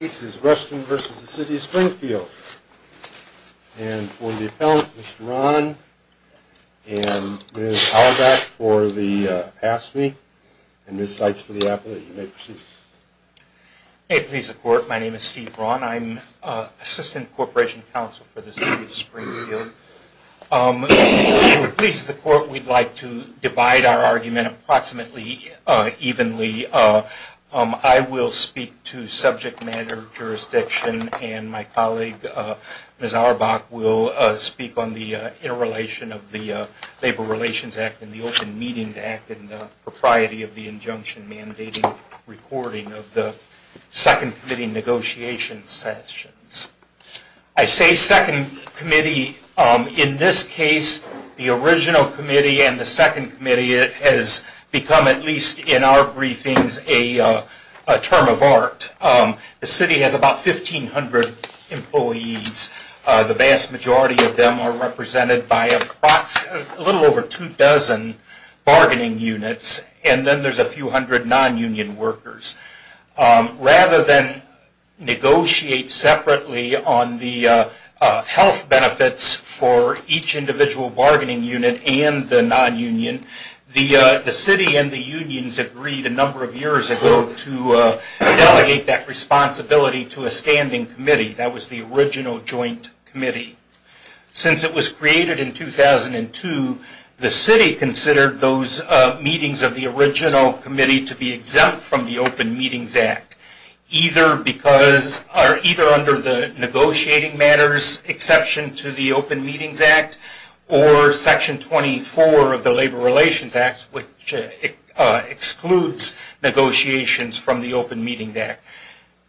This is Ruston v. City of Springfield. And for the appellant, Mr. Braun, and Ms. Halbach for the past week, and Ms. Sykes for the appellate. You may proceed. May it please the Court, my name is Steve Braun. I'm Assistant Corporation Counsel for the City of Springfield. If it pleases the Court, we'd like to divide our argument approximately evenly. I will speak to subject matter jurisdiction, and my colleague Ms. Halbach will speak on the interrelation of the Labor Relations Act and the Open Meetings Act and the propriety of the injunction mandating recording of the second committee negotiation sessions. I say second committee. In this case, the original committee and the second committee has become, at least in our briefings, a term of art. The City has about 1,500 employees. The vast majority of them are represented by a little over two dozen bargaining units, and then there's a few hundred non-union workers. Rather than negotiate separately on the health benefits for each individual bargaining unit and the non-union, the City and the unions agreed a number of years ago to delegate that responsibility to a standing committee. That was the original joint committee. Since it was created in 2002, the City considered those meetings of the original committee to be exempt from the Open Meetings Act, either under the Negotiating Matters exception to the Open Meetings Act or Section 24 of the Labor Relations Act, which excludes negotiations from the Open Meetings Act.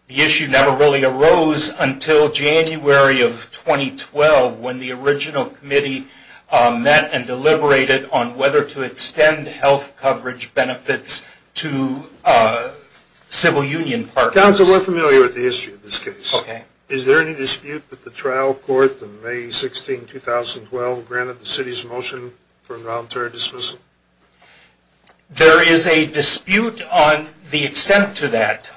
The issue never really arose until January of 2012 when the original committee met and deliberated on whether to extend health coverage benefits to civil union partners. Counsel, we're familiar with the history of this case. Okay. Is there any dispute that the trial court in May 16, 2012, granted the City's motion for a voluntary dismissal? There is a dispute on the extent to that.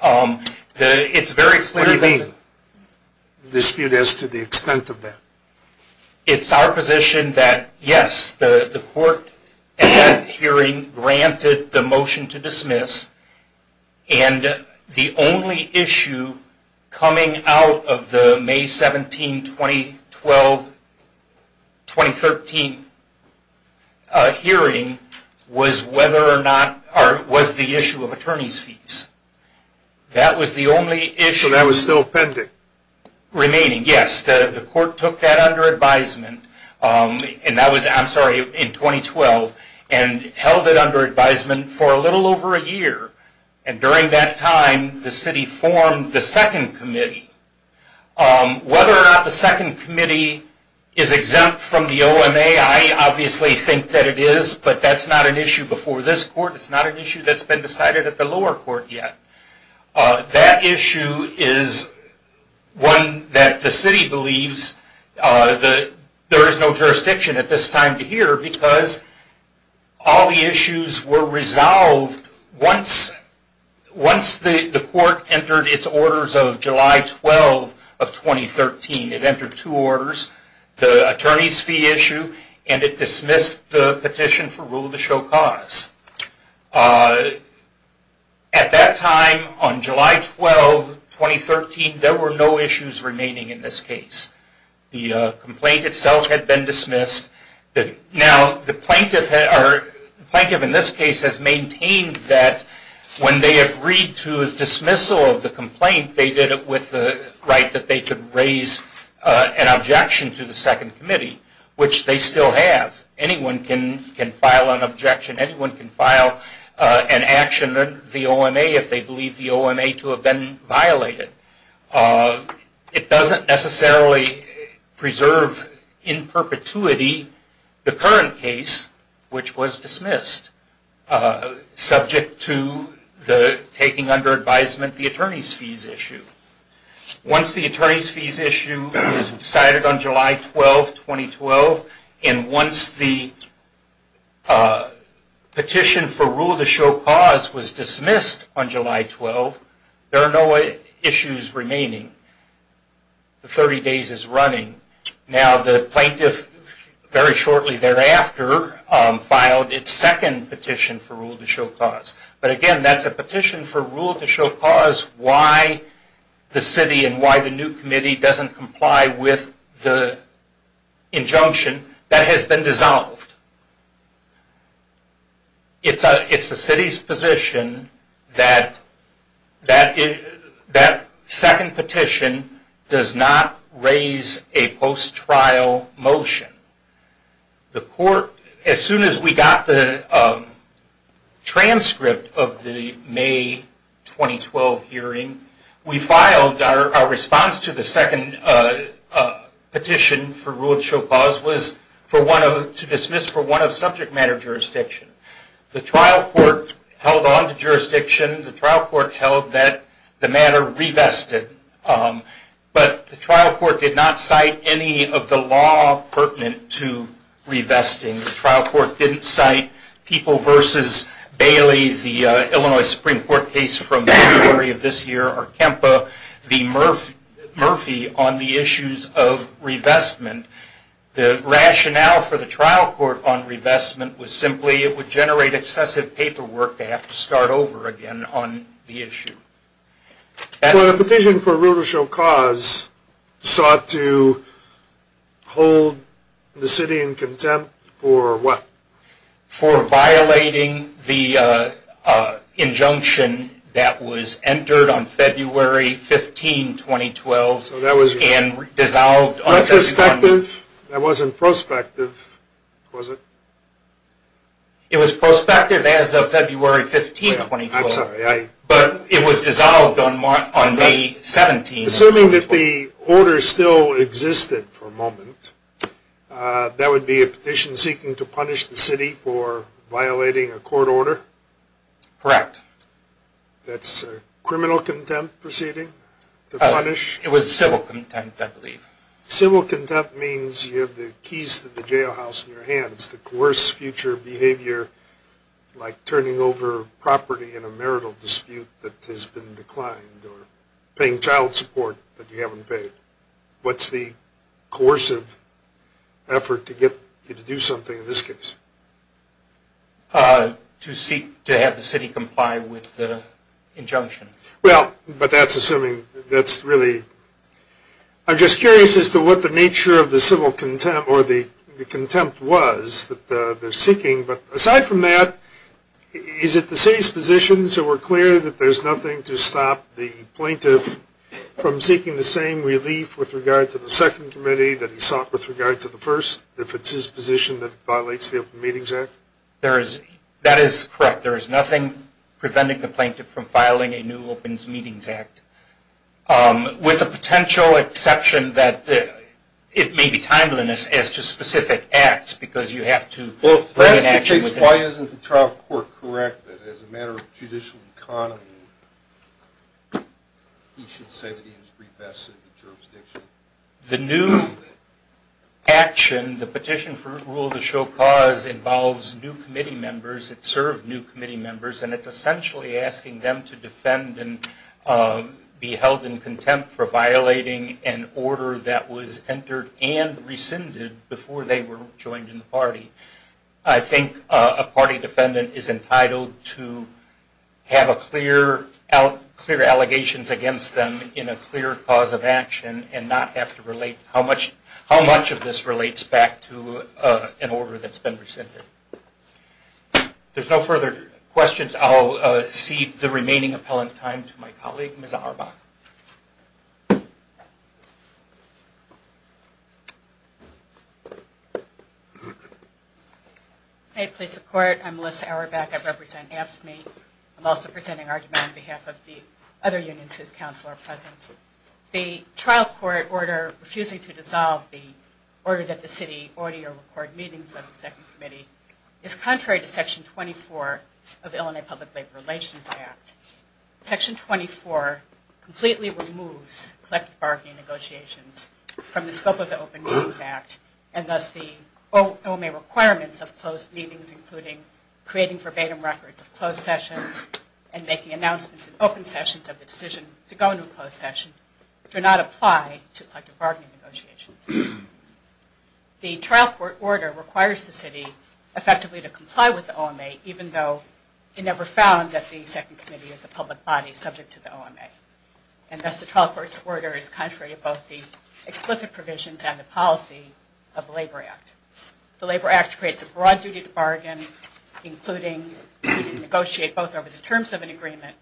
What do you mean, a dispute as to the extent of that? It's our position that, yes, the court at that hearing granted the motion to dismiss, and the only issue coming out of the May 17, 2012, 2013 hearing was the issue of attorneys' fees. So that was still pending? Remaining, yes. The court took that under advisement in 2012 and held it under advisement for a little over a year. And during that time, the City formed the second committee. Whether or not the second committee is exempt from the OMA, I obviously think that it is, but that's not an issue before this court. It's not an issue that's been decided at the lower court yet. That issue is one that the City believes there is no jurisdiction at this time to hear, because all the issues were resolved once the court entered its orders of July 12, 2013. It entered two orders, the attorneys' fee issue, and it dismissed the petition for rule of the show cause. At that time, on July 12, 2013, there were no issues remaining in this case. The complaint itself had been dismissed. Now, the plaintiff in this case has maintained that when they agreed to dismissal of the complaint, they did it with the right that they could raise an objection to the second committee, which they still have. Anyone can file an objection, anyone can file an action against the OMA if they believe the OMA to have been violated. It doesn't necessarily preserve in perpetuity the current case, which was dismissed, subject to taking under advisement the attorneys' fees issue. Once the attorneys' fees issue is decided on July 12, 2012, and once the petition for rule of the show cause was dismissed on July 12, there are no issues remaining. The 30 days is running. Now, the plaintiff, very shortly thereafter, filed its second petition for rule of the show cause. But again, that's a petition for rule of the show cause, why the city and why the new committee doesn't comply with the injunction that has been dissolved. It's the city's position that that second petition does not raise a post-trial motion. The court, as soon as we got the transcript of the May 2012 hearing, we filed our response to the second petition for rule of the show cause was to dismiss for one of subject matter jurisdiction. The trial court held on to jurisdiction. The trial court held that the matter revested. But the trial court did not cite any of the law pertinent to revesting. The trial court didn't cite People v. Bailey, the Illinois Supreme Court case from January of this year, or Kempa v. Murphy on the issues of revestment. The rationale for the trial court on revestment was simply it would generate excessive paperwork to have to start over again on the issue. The petition for rule of show cause sought to hold the city in contempt for what? For violating the injunction that was entered on February 15, 2012. That wasn't prospective, was it? It was prospective as of February 15, 2012. I'm sorry. But it was dissolved on May 17, 2012. Assuming that the order still existed for a moment, that would be a petition seeking to punish the city for violating a court order? Correct. That's a criminal contempt proceeding? It was civil contempt, I believe. Civil contempt means you have the keys to the jailhouse in your hands to coerce future behavior like turning over property in a marital dispute that has been declined, or paying child support that you haven't paid. What's the coercive effort to get you to do something in this case? To seek to have the city comply with the injunction. Well, but that's assuming that's really... I'm just curious as to what the nature of the civil contempt or the contempt was that they're seeking, but aside from that, is it the city's position, so we're clear, that there's nothing to stop the plaintiff from seeking the same relief with regard to the second committee that he sought with regard to the first, if it's his position that it violates the Open Meetings Act? That is correct. There is nothing preventing the plaintiff from filing a new Open Meetings Act, with the potential exception that it may be timeliness as to specific acts because you have to... Well, if that's the case, why isn't the trial court correct that as a matter of judicial economy, he should say that he was briefed best in the jurisdiction? The new action, the petition for rule of the show cause, involves new committee members. It served new committee members, and it's essentially asking them to defend and be held in contempt for violating an order that was entered and rescinded before they were joined in the party. I think a party defendant is entitled to have clear allegations against them in a clear cause of action, and not have to relate how much of this relates back to an order that's been rescinded. If there's no further questions, I'll cede the remaining appellant time to my colleague, Ms. Auerbach. May it please the Court, I'm Melissa Auerbach, I represent AFSCME. I'm also presenting argument on behalf of the other unions whose counsel are present. The trial court order refusing to dissolve the order that the city audit or record meetings of the second committee is contrary to Section 24 of the Illinois Public Labor Relations Act. Section 24 completely removes collective bargaining negotiations from the scope of the Open Meetings Act, and thus the OMA requirements of closed meetings, including creating verbatim records of closed sessions and making announcements in open sessions of the decision to go into a closed session, do not apply to collective bargaining negotiations. The trial court order requires the city effectively to comply with the OMA, even though it never found that the second committee is a public body subject to the OMA. And thus the trial court's order is contrary to both the explicit provisions and the policy of the Labor Act. The Labor Act creates a broad duty to bargain, including to negotiate both over the terms of an agreement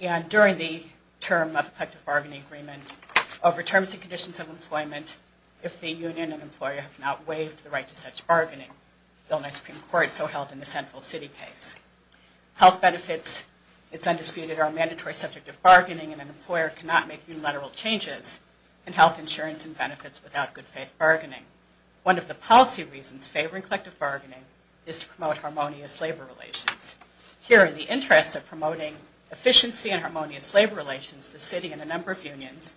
and during the term of a collective bargaining agreement, over terms and conditions of employment, if the union and employer have not waived the right to such bargaining. The Illinois Supreme Court so held in the Central City case. Health benefits, it's undisputed, are a mandatory subject of bargaining, and an employer cannot make unilateral changes in health insurance and benefits without good faith bargaining. One of the policy reasons favoring collective bargaining is to promote harmonious labor relations. Here in the interest of promoting efficiency and harmonious labor relations, the city and a number of unions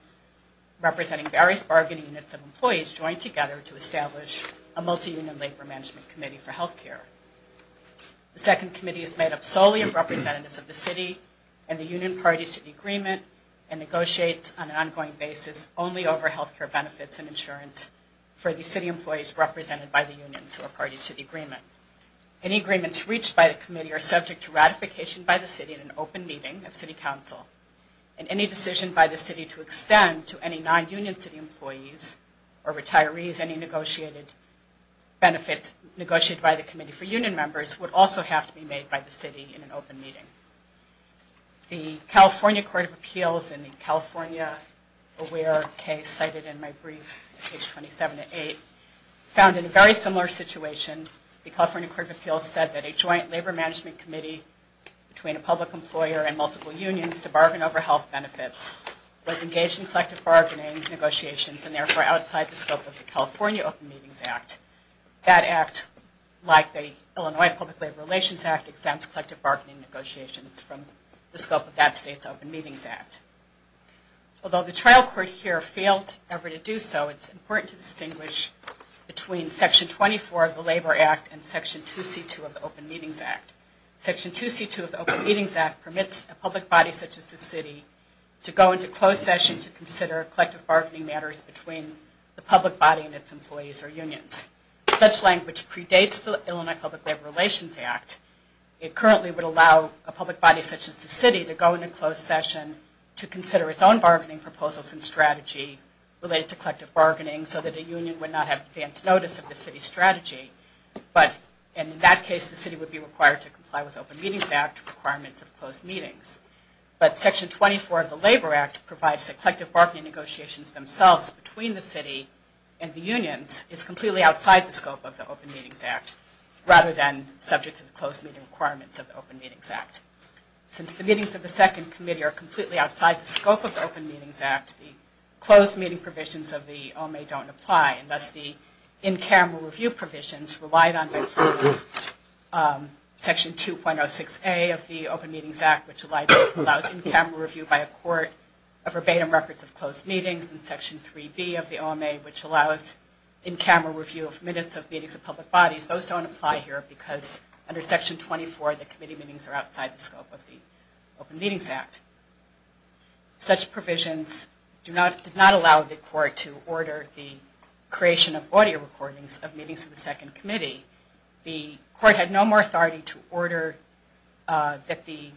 representing various bargaining units of employees joined together to establish a multi-union labor management committee for health care. The second committee is made up solely of representatives of the city and the union parties to the agreement and negotiates on an ongoing basis only over health care benefits and insurance for the city employees represented by the unions who are parties to the agreement. Any agreements reached by the committee are subject to ratification by the city in an open meeting of city council, and any decision by the city to extend to any non-union city employees or retirees any negotiated benefits negotiated by the committee for union members would also have to be made by the city in an open meeting. The California Court of Appeals in the California AWARE case cited in my brief, page 27 to 8, found in a very similar situation, the California Court of Appeals said that a joint labor management committee between a public employer and multiple unions to bargain over health benefits was engaged in collective bargaining negotiations and therefore outside the scope of the California Open Meetings Act. That act, like the Illinois Public Labor Relations Act, exempts collective bargaining negotiations from the scope of that state's Open Meetings Act. Although the trial court here failed ever to do so, it's important to distinguish between Section 24 of the Labor Act and Section 2C2 of the Open Meetings Act. Section 2C2 of the Open Meetings Act permits a public body such as the city to go into closed session to consider collective bargaining matters between the public body and its employees or unions. Such language predates the Illinois Public Labor Relations Act. It currently would allow a public body such as the city to go into closed session to consider its own bargaining proposals and strategy related to collective bargaining so that a union would not have advance notice of the city's strategy, but in that case the city would be required to comply with the Open Meetings Act requirements of closed meetings. But Section 24 of the Labor Act provides that collective bargaining negotiations themselves between the city and the unions is completely outside the scope of the Open Meetings Act rather than subject to the closed meeting requirements of the Open Meetings Act. Since the meetings of the second committee are completely outside the scope of the Open Meetings Act, the closed meeting provisions of the OMA don't apply and thus the in-camera review provisions relied on by Section 2.06A of the Open Meetings Act which allows in-camera review by a court of verbatim records of closed meetings and Section 3B of the OMA which allows in-camera review of minutes of meetings of public bodies, those don't apply here because under Section 24 the committee meetings are outside the scope of the Open Meetings Act. Such provisions do not allow the court to order the creation of audio recordings of meetings of the second committee. The court had no more authority to order that the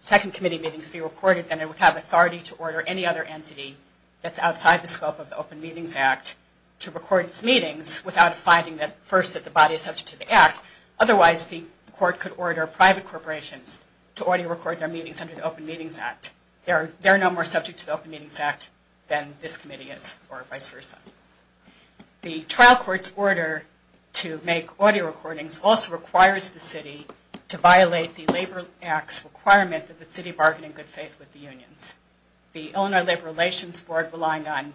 second committee meetings be recorded than it would have authority to order any other entity that's outside the scope of the Open Meetings Act to record its meetings without finding first that the body is subject to the Act. Otherwise the court could order private corporations to audio record their meetings under the Open Meetings Act. They're no more subject to the Open Meetings Act than this committee is or vice versa. The trial court's order to make audio recordings also requires the city to violate the Labor Act's requirement that the city bargain in good faith with the unions. The Illinois Labor Relations Board relying on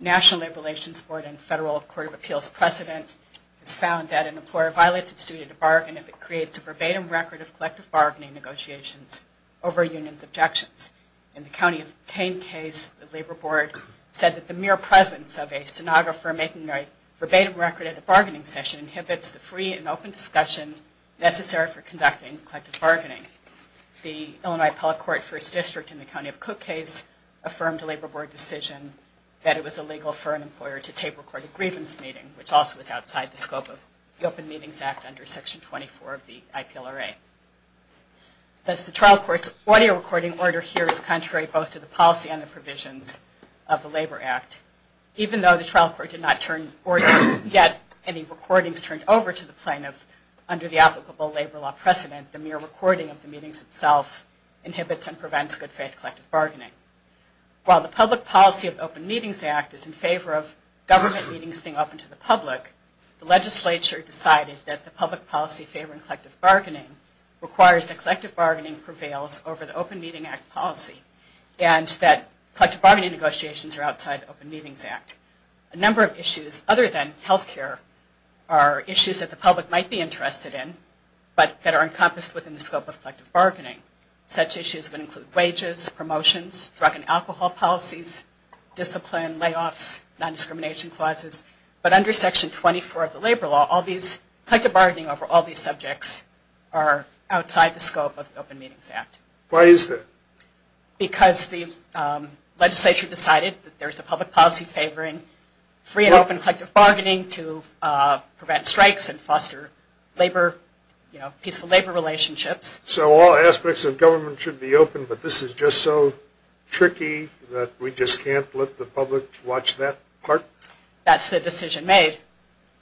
National Labor Relations Board and Federal Court of Appeals precedent has found that an employer violates its duty to bargain if it creates a verbatim record of collective bargaining negotiations over a union's objections. In the County of Kane case, the Labor Board said that the mere presence of a stenographer making a verbatim record at a bargaining session inhibits the free and open discussion necessary for conducting collective bargaining. The Illinois Appellate Court First District in the County of Cook Case affirmed a Labor Board decision that it was illegal for an employer to tape record a grievance meeting, which also is outside the scope of the Open Meetings Act under Section 24 of the IPLRA. Thus, the trial court's audio recording order here is contrary both to the policy and the provisions of the Labor Act. Even though the trial court did not get any recordings turned over to the plaintiff under the applicable labor law precedent, the mere recording of the meetings itself inhibits and prevents good faith collective bargaining. While the public policy of the Open Meetings Act is in favor of government meetings being open to the public, the legislature decided that the public policy favoring collective bargaining requires that collective bargaining prevails over the Open Meeting Act policy and that collective bargaining negotiations are outside the Open Meetings Act. A number of issues other than health care are issues that the public might be interested in but that are encompassed within the scope of collective bargaining. Such issues would include wages, promotions, drug and alcohol policies, discipline, layoffs, non-discrimination clauses, but under Section 24 of the labor law, collective bargaining over all these subjects are outside the scope of the Open Meetings Act. Why is that? Because the legislature decided that there is a public policy favoring free and open collective bargaining to prevent strikes and foster peaceful labor relationships. So all aspects of government should be open, but this is just so tricky that we just can't let the public watch that part? That's the decision made.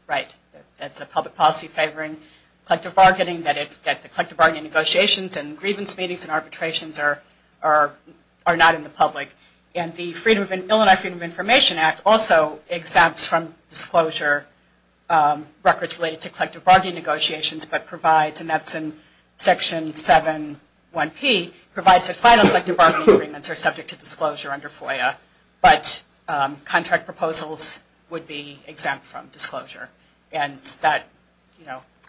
Right. That's a public policy favoring collective bargaining that the collective bargaining negotiations and grievance meetings and arbitrations are not in the public. And the Illinois Freedom of Information Act also exempts from disclosure records related to collective bargaining negotiations but provides, and that's in Section 7.1.P, provides that final collective bargaining agreements are subject to disclosure under FOIA but contract proposals would be exempt from disclosure. And that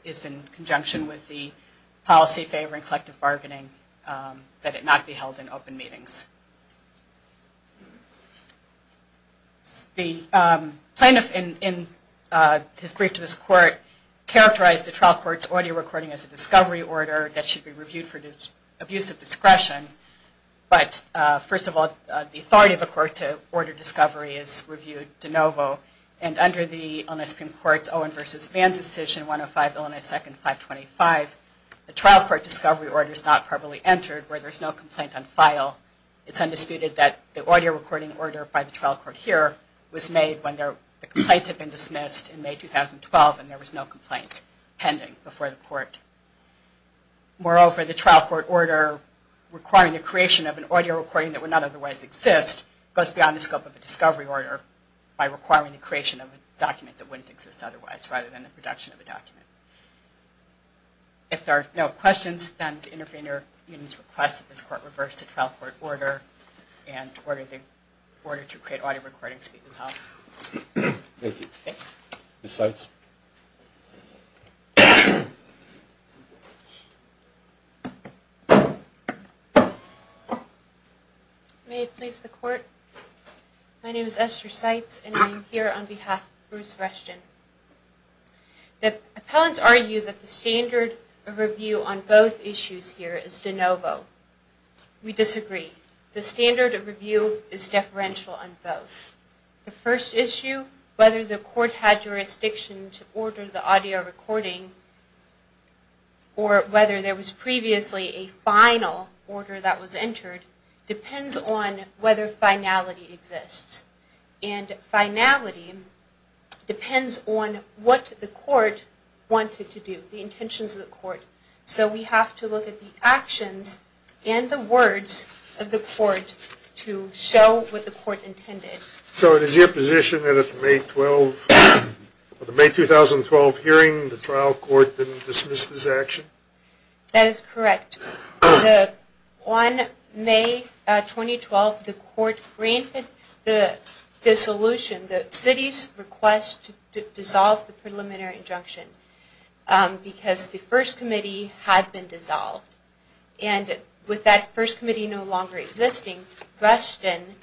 is in conjunction with the policy favoring collective bargaining that it not be held in open meetings. The plaintiff in his brief to this court characterized the trial court's audio recording as a discovery order that should be reviewed for abuse of discretion. But first of all, the authority of the court to order discovery is reviewed de novo. And under the Illinois Supreme Court's Owen v. Vann decision, 105 Illinois 2nd 525, the trial court discovery order is not properly entered where there is no complaint on file. It's undisputed that the audio recording order by the trial court here was made when the complaints had been dismissed in May 2012 and there was no complaint pending before the court. Moreover, the trial court order requiring the creation of an audio recording that would not otherwise exist goes beyond the scope of a discovery order by requiring the creation of a document that wouldn't exist otherwise rather than the production of a document. If there are no questions, then the intervener needs to request that this court reverse the trial court order in order to create audio recordings. Thank you. Ms. Seitz. May it please the court? My name is Esther Seitz, and I'm here on behalf of Bruce Rushton. The appellants argue that the standard of review on both issues here is de novo. We disagree. The standard of review is deferential on both. The first issue, whether the court had jurisdiction to order the audio recording or whether there was previously a final order that was entered, depends on whether finality exists. And finality depends on what the court wanted to do, the intentions of the court. So we have to look at the actions and the words of the court to show what the court intended. So it is your position that at the May 2012 hearing, the trial court didn't dismiss this action? That is correct. On May 2012, the court granted the dissolution, the city's request to dissolve the preliminary injunction, because the first committee had been dissolved. And with that first committee no longer existing, Rushton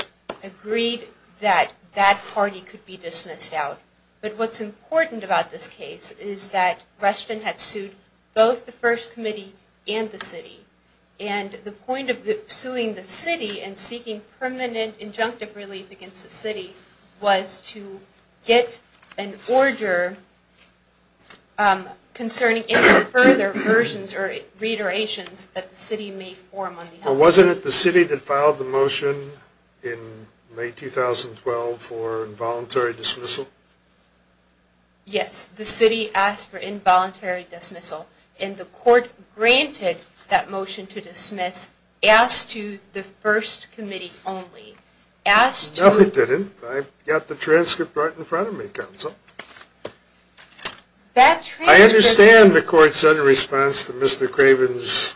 agreed that that party could be dismissed out. But what's important about this case is that Rushton had sued both the first committee and the city. And the point of suing the city and seeking permanent injunctive relief against the city was to get an order concerning any further versions or reiterations that the city may form on the matter. But wasn't it the city that filed the motion in May 2012 for involuntary dismissal? Yes, the city asked for involuntary dismissal. And the court granted that motion to dismiss, asked to the first committee only. No, it didn't. I've got the transcript right in front of me, counsel. I understand the court said in response to Mr. Craven's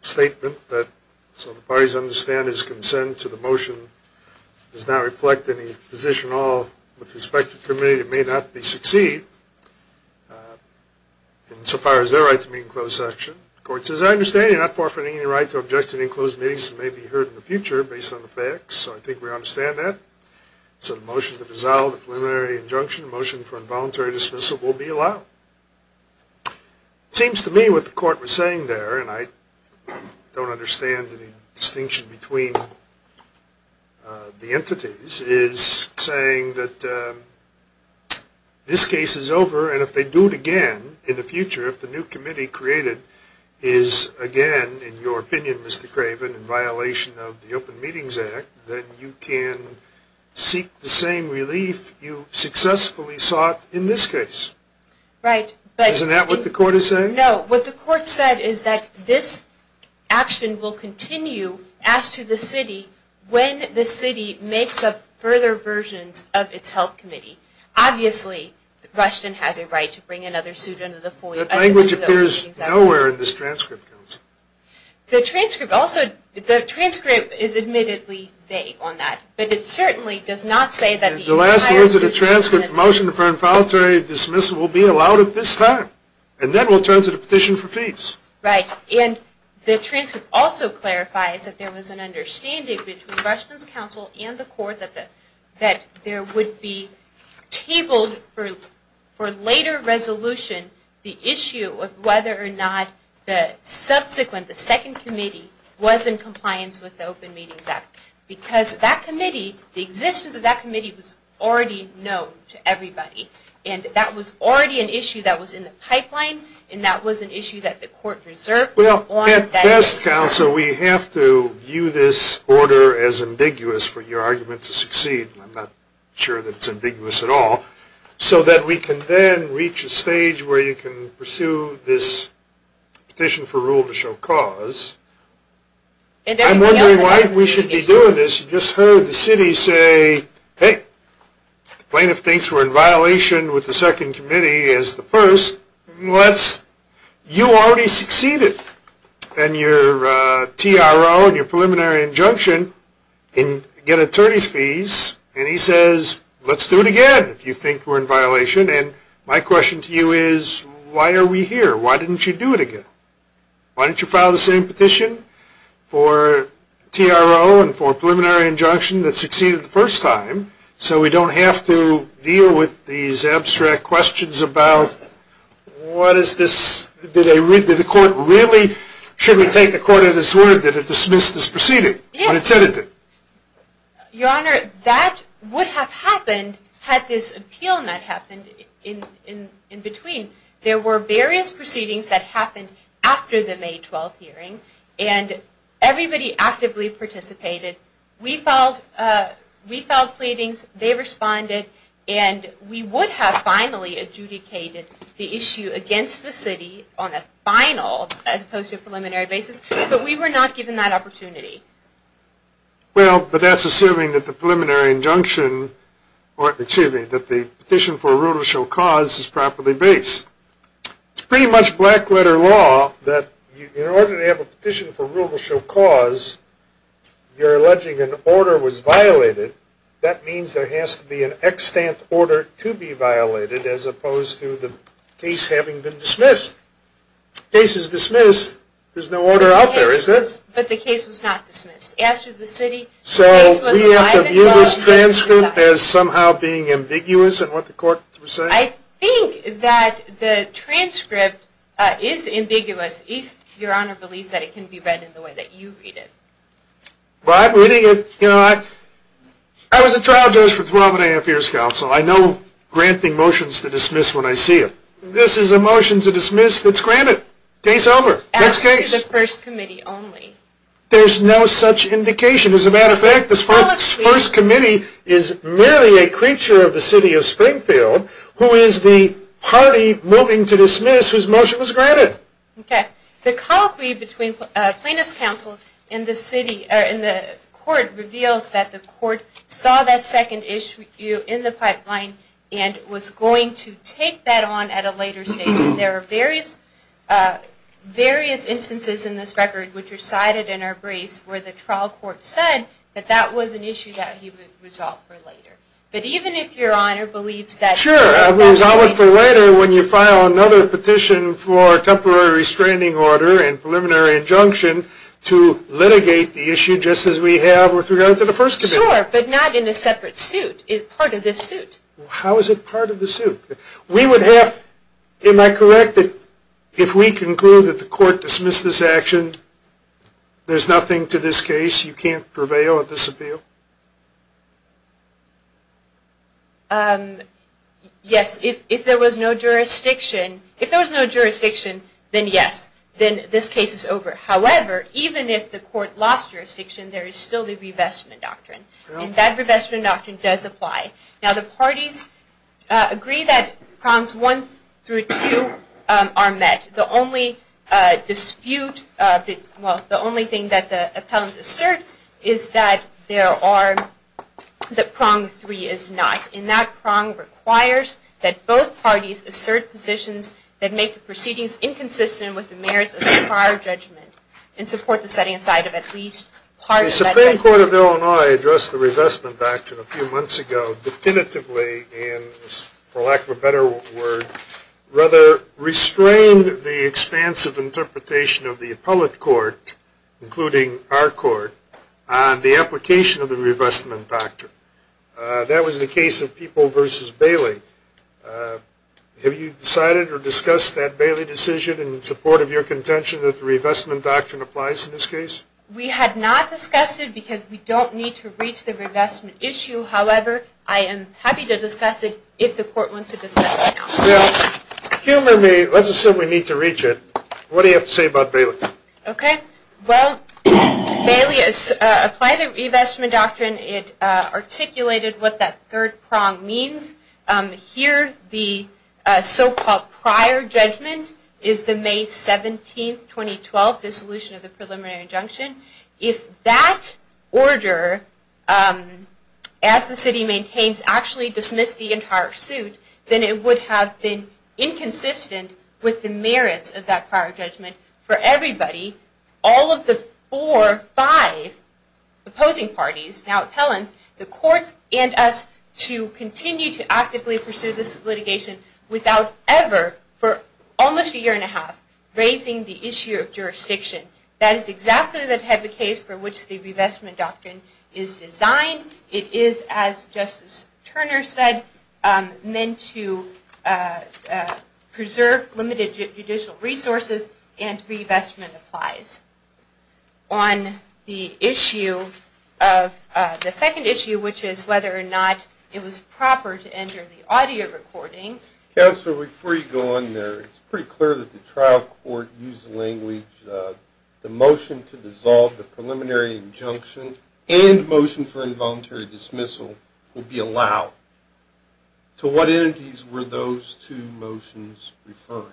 statement that, so the parties understand his consent to the motion does not reflect any position at all with respect to the committee, it may not be succeeded insofar as their right to meet in closed session. The court says, I understand you're not forfeiting your right to object to any closed meetings that may be heard in the future based on the facts, so I think we understand that. So the motion to dissolve the preliminary injunction, the motion for involuntary dismissal, will be allowed. It seems to me what the court was saying there, and I don't understand the distinction between the entities, is saying that this case is over, and if they do it again in the future, if the new committee created is again, in your opinion, Mr. Craven, in violation of the Open Meetings Act, then you can seek the same relief you successfully sought in this case. Right. Isn't that what the court is saying? No, what the court said is that this action will continue as to the city when the city makes up further versions of its health committee. Obviously, Rushton has a right to bring another suit under the FOIA. That language appears nowhere in this transcript, Counsel. The transcript also, the transcript is admittedly vague on that, but it certainly does not say that the entire... The last words of the transcript, the motion for involuntary dismissal will be allowed at this time, and then we'll turn to the petition for fees. Right, and the transcript also clarifies that there was an understanding between Rushton's counsel and the court that there would be tabled for later resolution the issue of whether or not the subsequent, the second committee, was in compliance with the Open Meetings Act, because that committee, the existence of that committee, was already known to everybody, and that was already an issue that was in the pipeline, and that was an issue that the court reserved... At best, Counsel, we have to view this order as ambiguous for your argument to succeed. I'm not sure that it's ambiguous at all. So that we can then reach a stage where you can pursue this petition for rule to show cause. I'm wondering why we should be doing this. You just heard the city say, hey, the plaintiff thinks we're in violation with the second committee as the first. You already succeeded, and your TRO and your preliminary injunction get attorney's fees, and he says, let's do it again if you think we're in violation. And my question to you is, why are we here? Why didn't you do it again? Why didn't you file the same petition for TRO and for preliminary injunction that succeeded the first time, so we don't have to deal with these abstract questions about, what is this? Did the court really, should we take the court at its word that it dismissed this proceeding? Yes. When it said it did. Your Honor, that would have happened had this appeal not happened in between. There were various proceedings that happened after the May 12th hearing, and everybody actively participated. We filed pleadings, they responded, and we would have finally adjudicated the issue against the city on a final, as opposed to a preliminary basis, but we were not given that opportunity. Well, but that's assuming that the petition for rule to show cause is properly based. It's pretty much black letter law that in order to have a petition for rule to show cause, you're alleging an order was violated. That means there has to be an extant order to be violated, as opposed to the case having been dismissed. The case is dismissed, there's no order out there, is there? But the case was not dismissed. After the city, the case was not violated. So we have to view this transcript as somehow being ambiguous in what the court was saying? I think that the transcript is ambiguous if Your Honor believes that it can be read in the way that you read it. Well, I'm reading it, you know, I was a trial judge for 12 and a half years, Counsel. I know granting motions to dismiss when I see it. This is a motion to dismiss that's granted. Case over. Next case. After the first committee only. There's no such indication. As a matter of fact, the first committee is merely a creature of the city of Springfield, who is the party moving to dismiss whose motion was granted. Okay. The colloquy between plaintiff's counsel and the court reveals that the court saw that second issue in the pipeline and was going to take that on at a later stage. There are various instances in this record which are cited in our briefs where the trial court said that that was an issue that he would resolve for later. But even if Your Honor believes that Sure, I would resolve it for later when you file another petition for temporary restraining order and preliminary injunction to litigate the issue just as we have with regard to the first committee. Sure, but not in a separate suit. Part of the suit. How is it part of the suit? Am I correct that if we conclude that the court dismissed this action, there's nothing to this case? You can't prevail at this appeal? Yes. If there was no jurisdiction, then yes. Then this case is over. However, even if the court lost jurisdiction, there is still the revestment doctrine. And that revestment doctrine does apply. Now, the parties agree that prongs one through two are met. The only dispute, well, the only thing that the appellants assert is that there are, that prong three is not. And that prong requires that both parties assert positions that make the proceedings inconsistent with the merits of the prior judgment and support the setting aside of at least part of that judgment. The Supreme Court of Illinois addressed the revestment doctrine a few months ago definitively and, for lack of a better word, rather restrained the expansive interpretation of the appellate court, including our court, on the application of the revestment doctrine. That was the case of People v. Bailey. Have you decided or discussed that Bailey decision in support of your contention that the revestment doctrine applies in this case? We have not discussed it because we don't need to reach the revestment issue. However, I am happy to discuss it if the court wants to discuss it now. Well, humor me. Let's assume we need to reach it. What do you have to say about Bailey? Okay. Well, Bailey has applied the revestment doctrine. It articulated what that third prong means. Here, the so-called prior judgment is the May 17, 2012, dissolution of the preliminary injunction. If that order, as the city maintains, actually dismissed the entire suit, then it would have been inconsistent with the merits of that prior judgment for everybody, all of the four or five opposing parties, now appellants, the courts and us to continue to actively pursue this litigation without ever, for almost a year and a half, raising the issue of jurisdiction. That is exactly the type of case for which the revestment doctrine is designed. It is, as Justice Turner said, meant to preserve limited judicial resources and revestment applies. On the second issue, which is whether or not it was proper to enter the audio recording. Counselor, before you go on there, it's pretty clear that the trial court used the language, the motion to dissolve the preliminary injunction and the motion for involuntary dismissal will be allowed. To what entities were those two motions referring?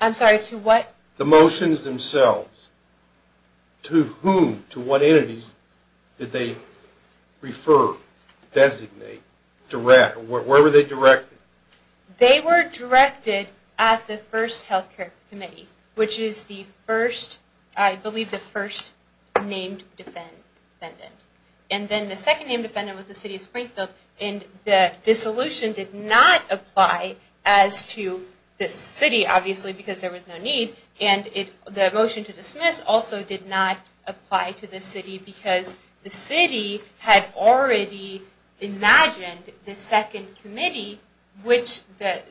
I'm sorry, to what? The motions themselves. To whom, to what entities did they refer, designate, direct, or where were they directed? They were directed at the first health care committee, which is the first, I believe the first named defendant. And then the second named defendant was the city of Springfield and the dissolution did not apply as to the city, obviously because there was no need, and the motion to dismiss also did not apply to the city because the city had already imagined the second committee, which the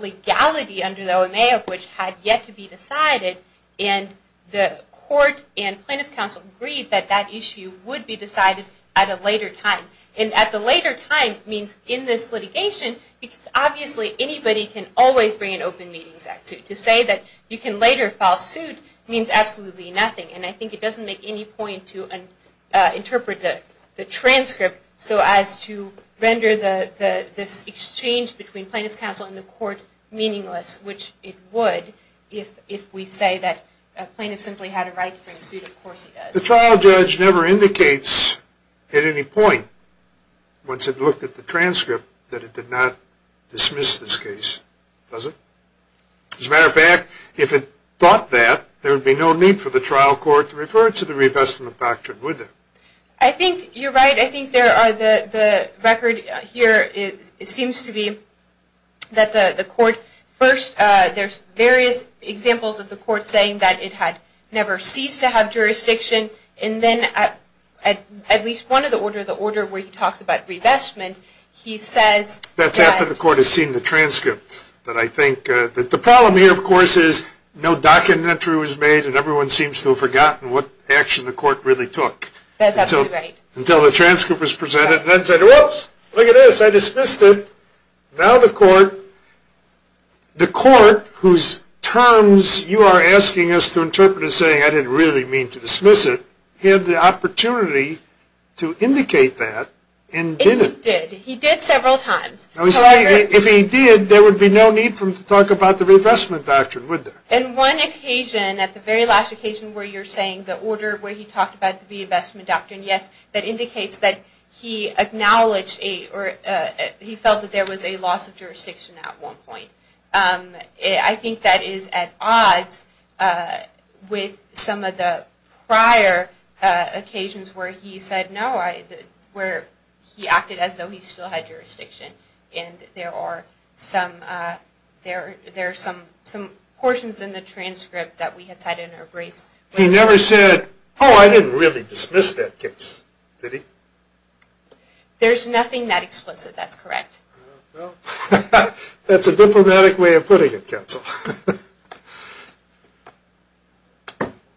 legality under the OMA of which had yet to be decided, and the court and plaintiff's counsel agreed that that issue would be decided at a later time. And at the later time means in this litigation, because obviously anybody can always bring an Open Meetings Act suit. To say that you can later file suit means absolutely nothing, and I think it doesn't make any point to interpret the transcript so as to render this exchange between plaintiff's counsel and the court meaningless, which it would if we say that a plaintiff simply had a right to bring a suit, of course he does. The trial judge never indicates at any point, once it looked at the transcript, that it did not dismiss this case, does it? As a matter of fact, if it thought that, there would be no need for the trial court to refer it to the revestment doctrine, would there? I think you're right. I think the record here seems to be that the court first, there's various examples of the court saying that it had never ceased to have jurisdiction, and then at least one of the order where he talks about revestment, he says that... That's after the court has seen the transcript. But I think that the problem here, of course, is no documentary was made and everyone seems to have forgotten what action the court really took. That's absolutely right. Until the transcript was presented, and then said, whoops, look at this, I dismissed it. Now the court, the court whose terms you are asking us to interpret as saying I didn't really mean to dismiss it, had the opportunity to indicate that and didn't. He did. He did several times. If he did, there would be no need for him to talk about the revestment doctrine, would there? And one occasion, at the very last occasion where you're saying the order where he talked about the revestment doctrine, yes, that indicates that he acknowledged or he felt that there was a loss of jurisdiction at one point. I think that is at odds with some of the prior occasions where he said no, where he acted as though he still had jurisdiction. And there are some, there are some portions in the transcript that we have had to interpret. He never said, oh, I didn't really dismiss that case, did he? There's nothing that explicit, that's correct. Well, that's a diplomatic way of putting it, counsel.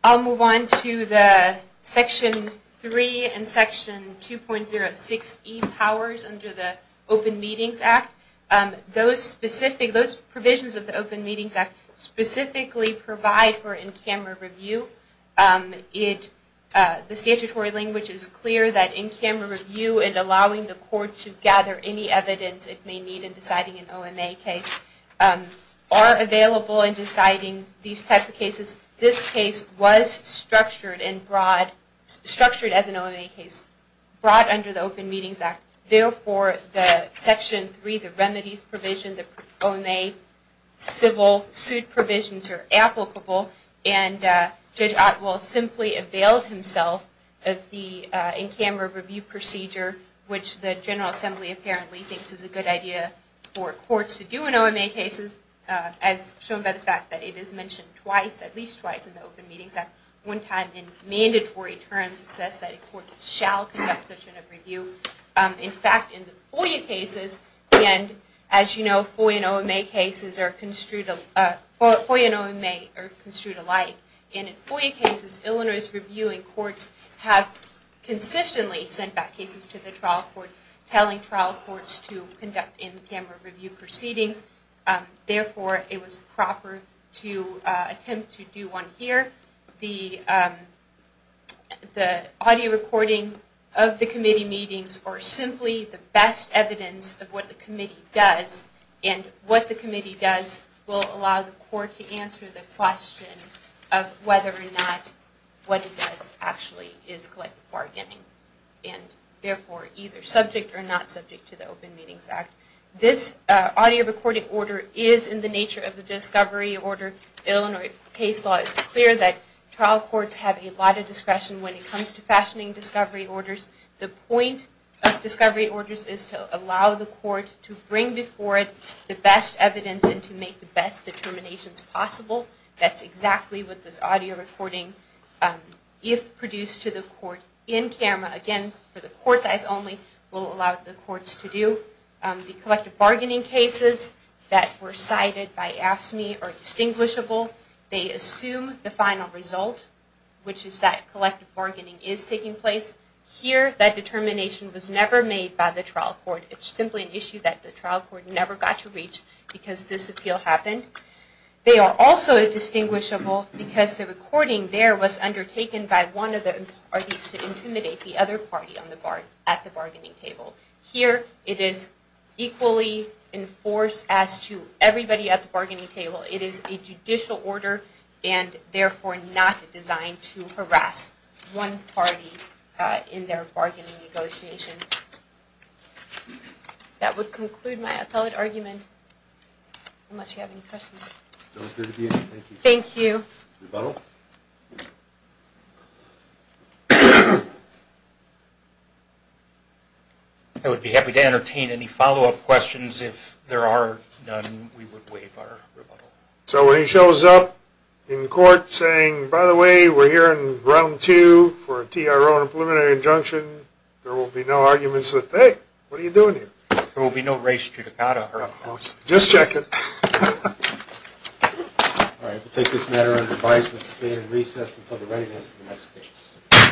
I'll move on to the Section 3 and Section 2.06e powers under the Open Meetings Act. Those specific, those provisions of the Open Meetings Act specifically provide for in-camera review. It, the statutory language is clear that in-camera review and allowing the court to gather any evidence it may need in deciding an OMA case are available in deciding these types of cases. This case was structured and brought, structured as an OMA case, brought under the Open Meetings Act. Therefore, the Section 3, the remedies provision, the OMA civil suit provisions are applicable. And Judge Otwell simply availed himself of the in-camera review procedure, which the General Assembly apparently thinks is a good idea for courts to do in OMA cases, as shown by the fact that it is mentioned twice, at least twice in the Open Meetings Act. One time in mandatory terms it says that a court shall conduct such an overview. In fact, in the FOIA cases, and as you know, FOIA and OMA cases are construed, FOIA and OMA are construed alike. In FOIA cases, Illinois' reviewing courts have consistently sent back cases to the trial court, telling trial courts to conduct in-camera review proceedings. Therefore, it was proper to attempt to do one here. The audio recording of the committee meetings are simply the best evidence of what the committee does. And what the committee does will allow the court to answer the question of whether or not what it does actually is collective bargaining. And therefore, either subject or not subject to the Open Meetings Act. This audio recording order is in the nature of the discovery order. Illinois' case law is clear that trial courts have a lot of discretion when it comes to fashioning discovery orders. The point of discovery orders is to allow the court to bring before it the best evidence and to make the best determinations possible. That's exactly what this audio recording, if produced to the court in-camera, again for the court's eyes only, will allow the courts to do. The collective bargaining cases that were cited by AFSCME are distinguishable. They assume the final result, which is that collective bargaining is taking place. Here, that determination was never made by the trial court. It's simply an issue that the trial court never got to reach because this appeal happened. They are also distinguishable because the recording there was undertaken by one of the parties to intimidate the other party at the bargaining table. Here, it is equally enforced as to everybody at the bargaining table. It is a judicial order and therefore not designed to harass one party in their bargaining negotiation. That would conclude my appellate argument. Unless you have any questions. Thank you. Rebuttal? I would be happy to entertain any follow-up questions. If there are none, we would waive our rebuttal. So when he shows up in court saying, by the way, we're here in round two for a TRO and a preliminary injunction, there will be no arguments that, hey, what are you doing here? There will be no res judicata. Just check it. All right. We'll take this matter under advisement and stay in recess until the readiness of the next case.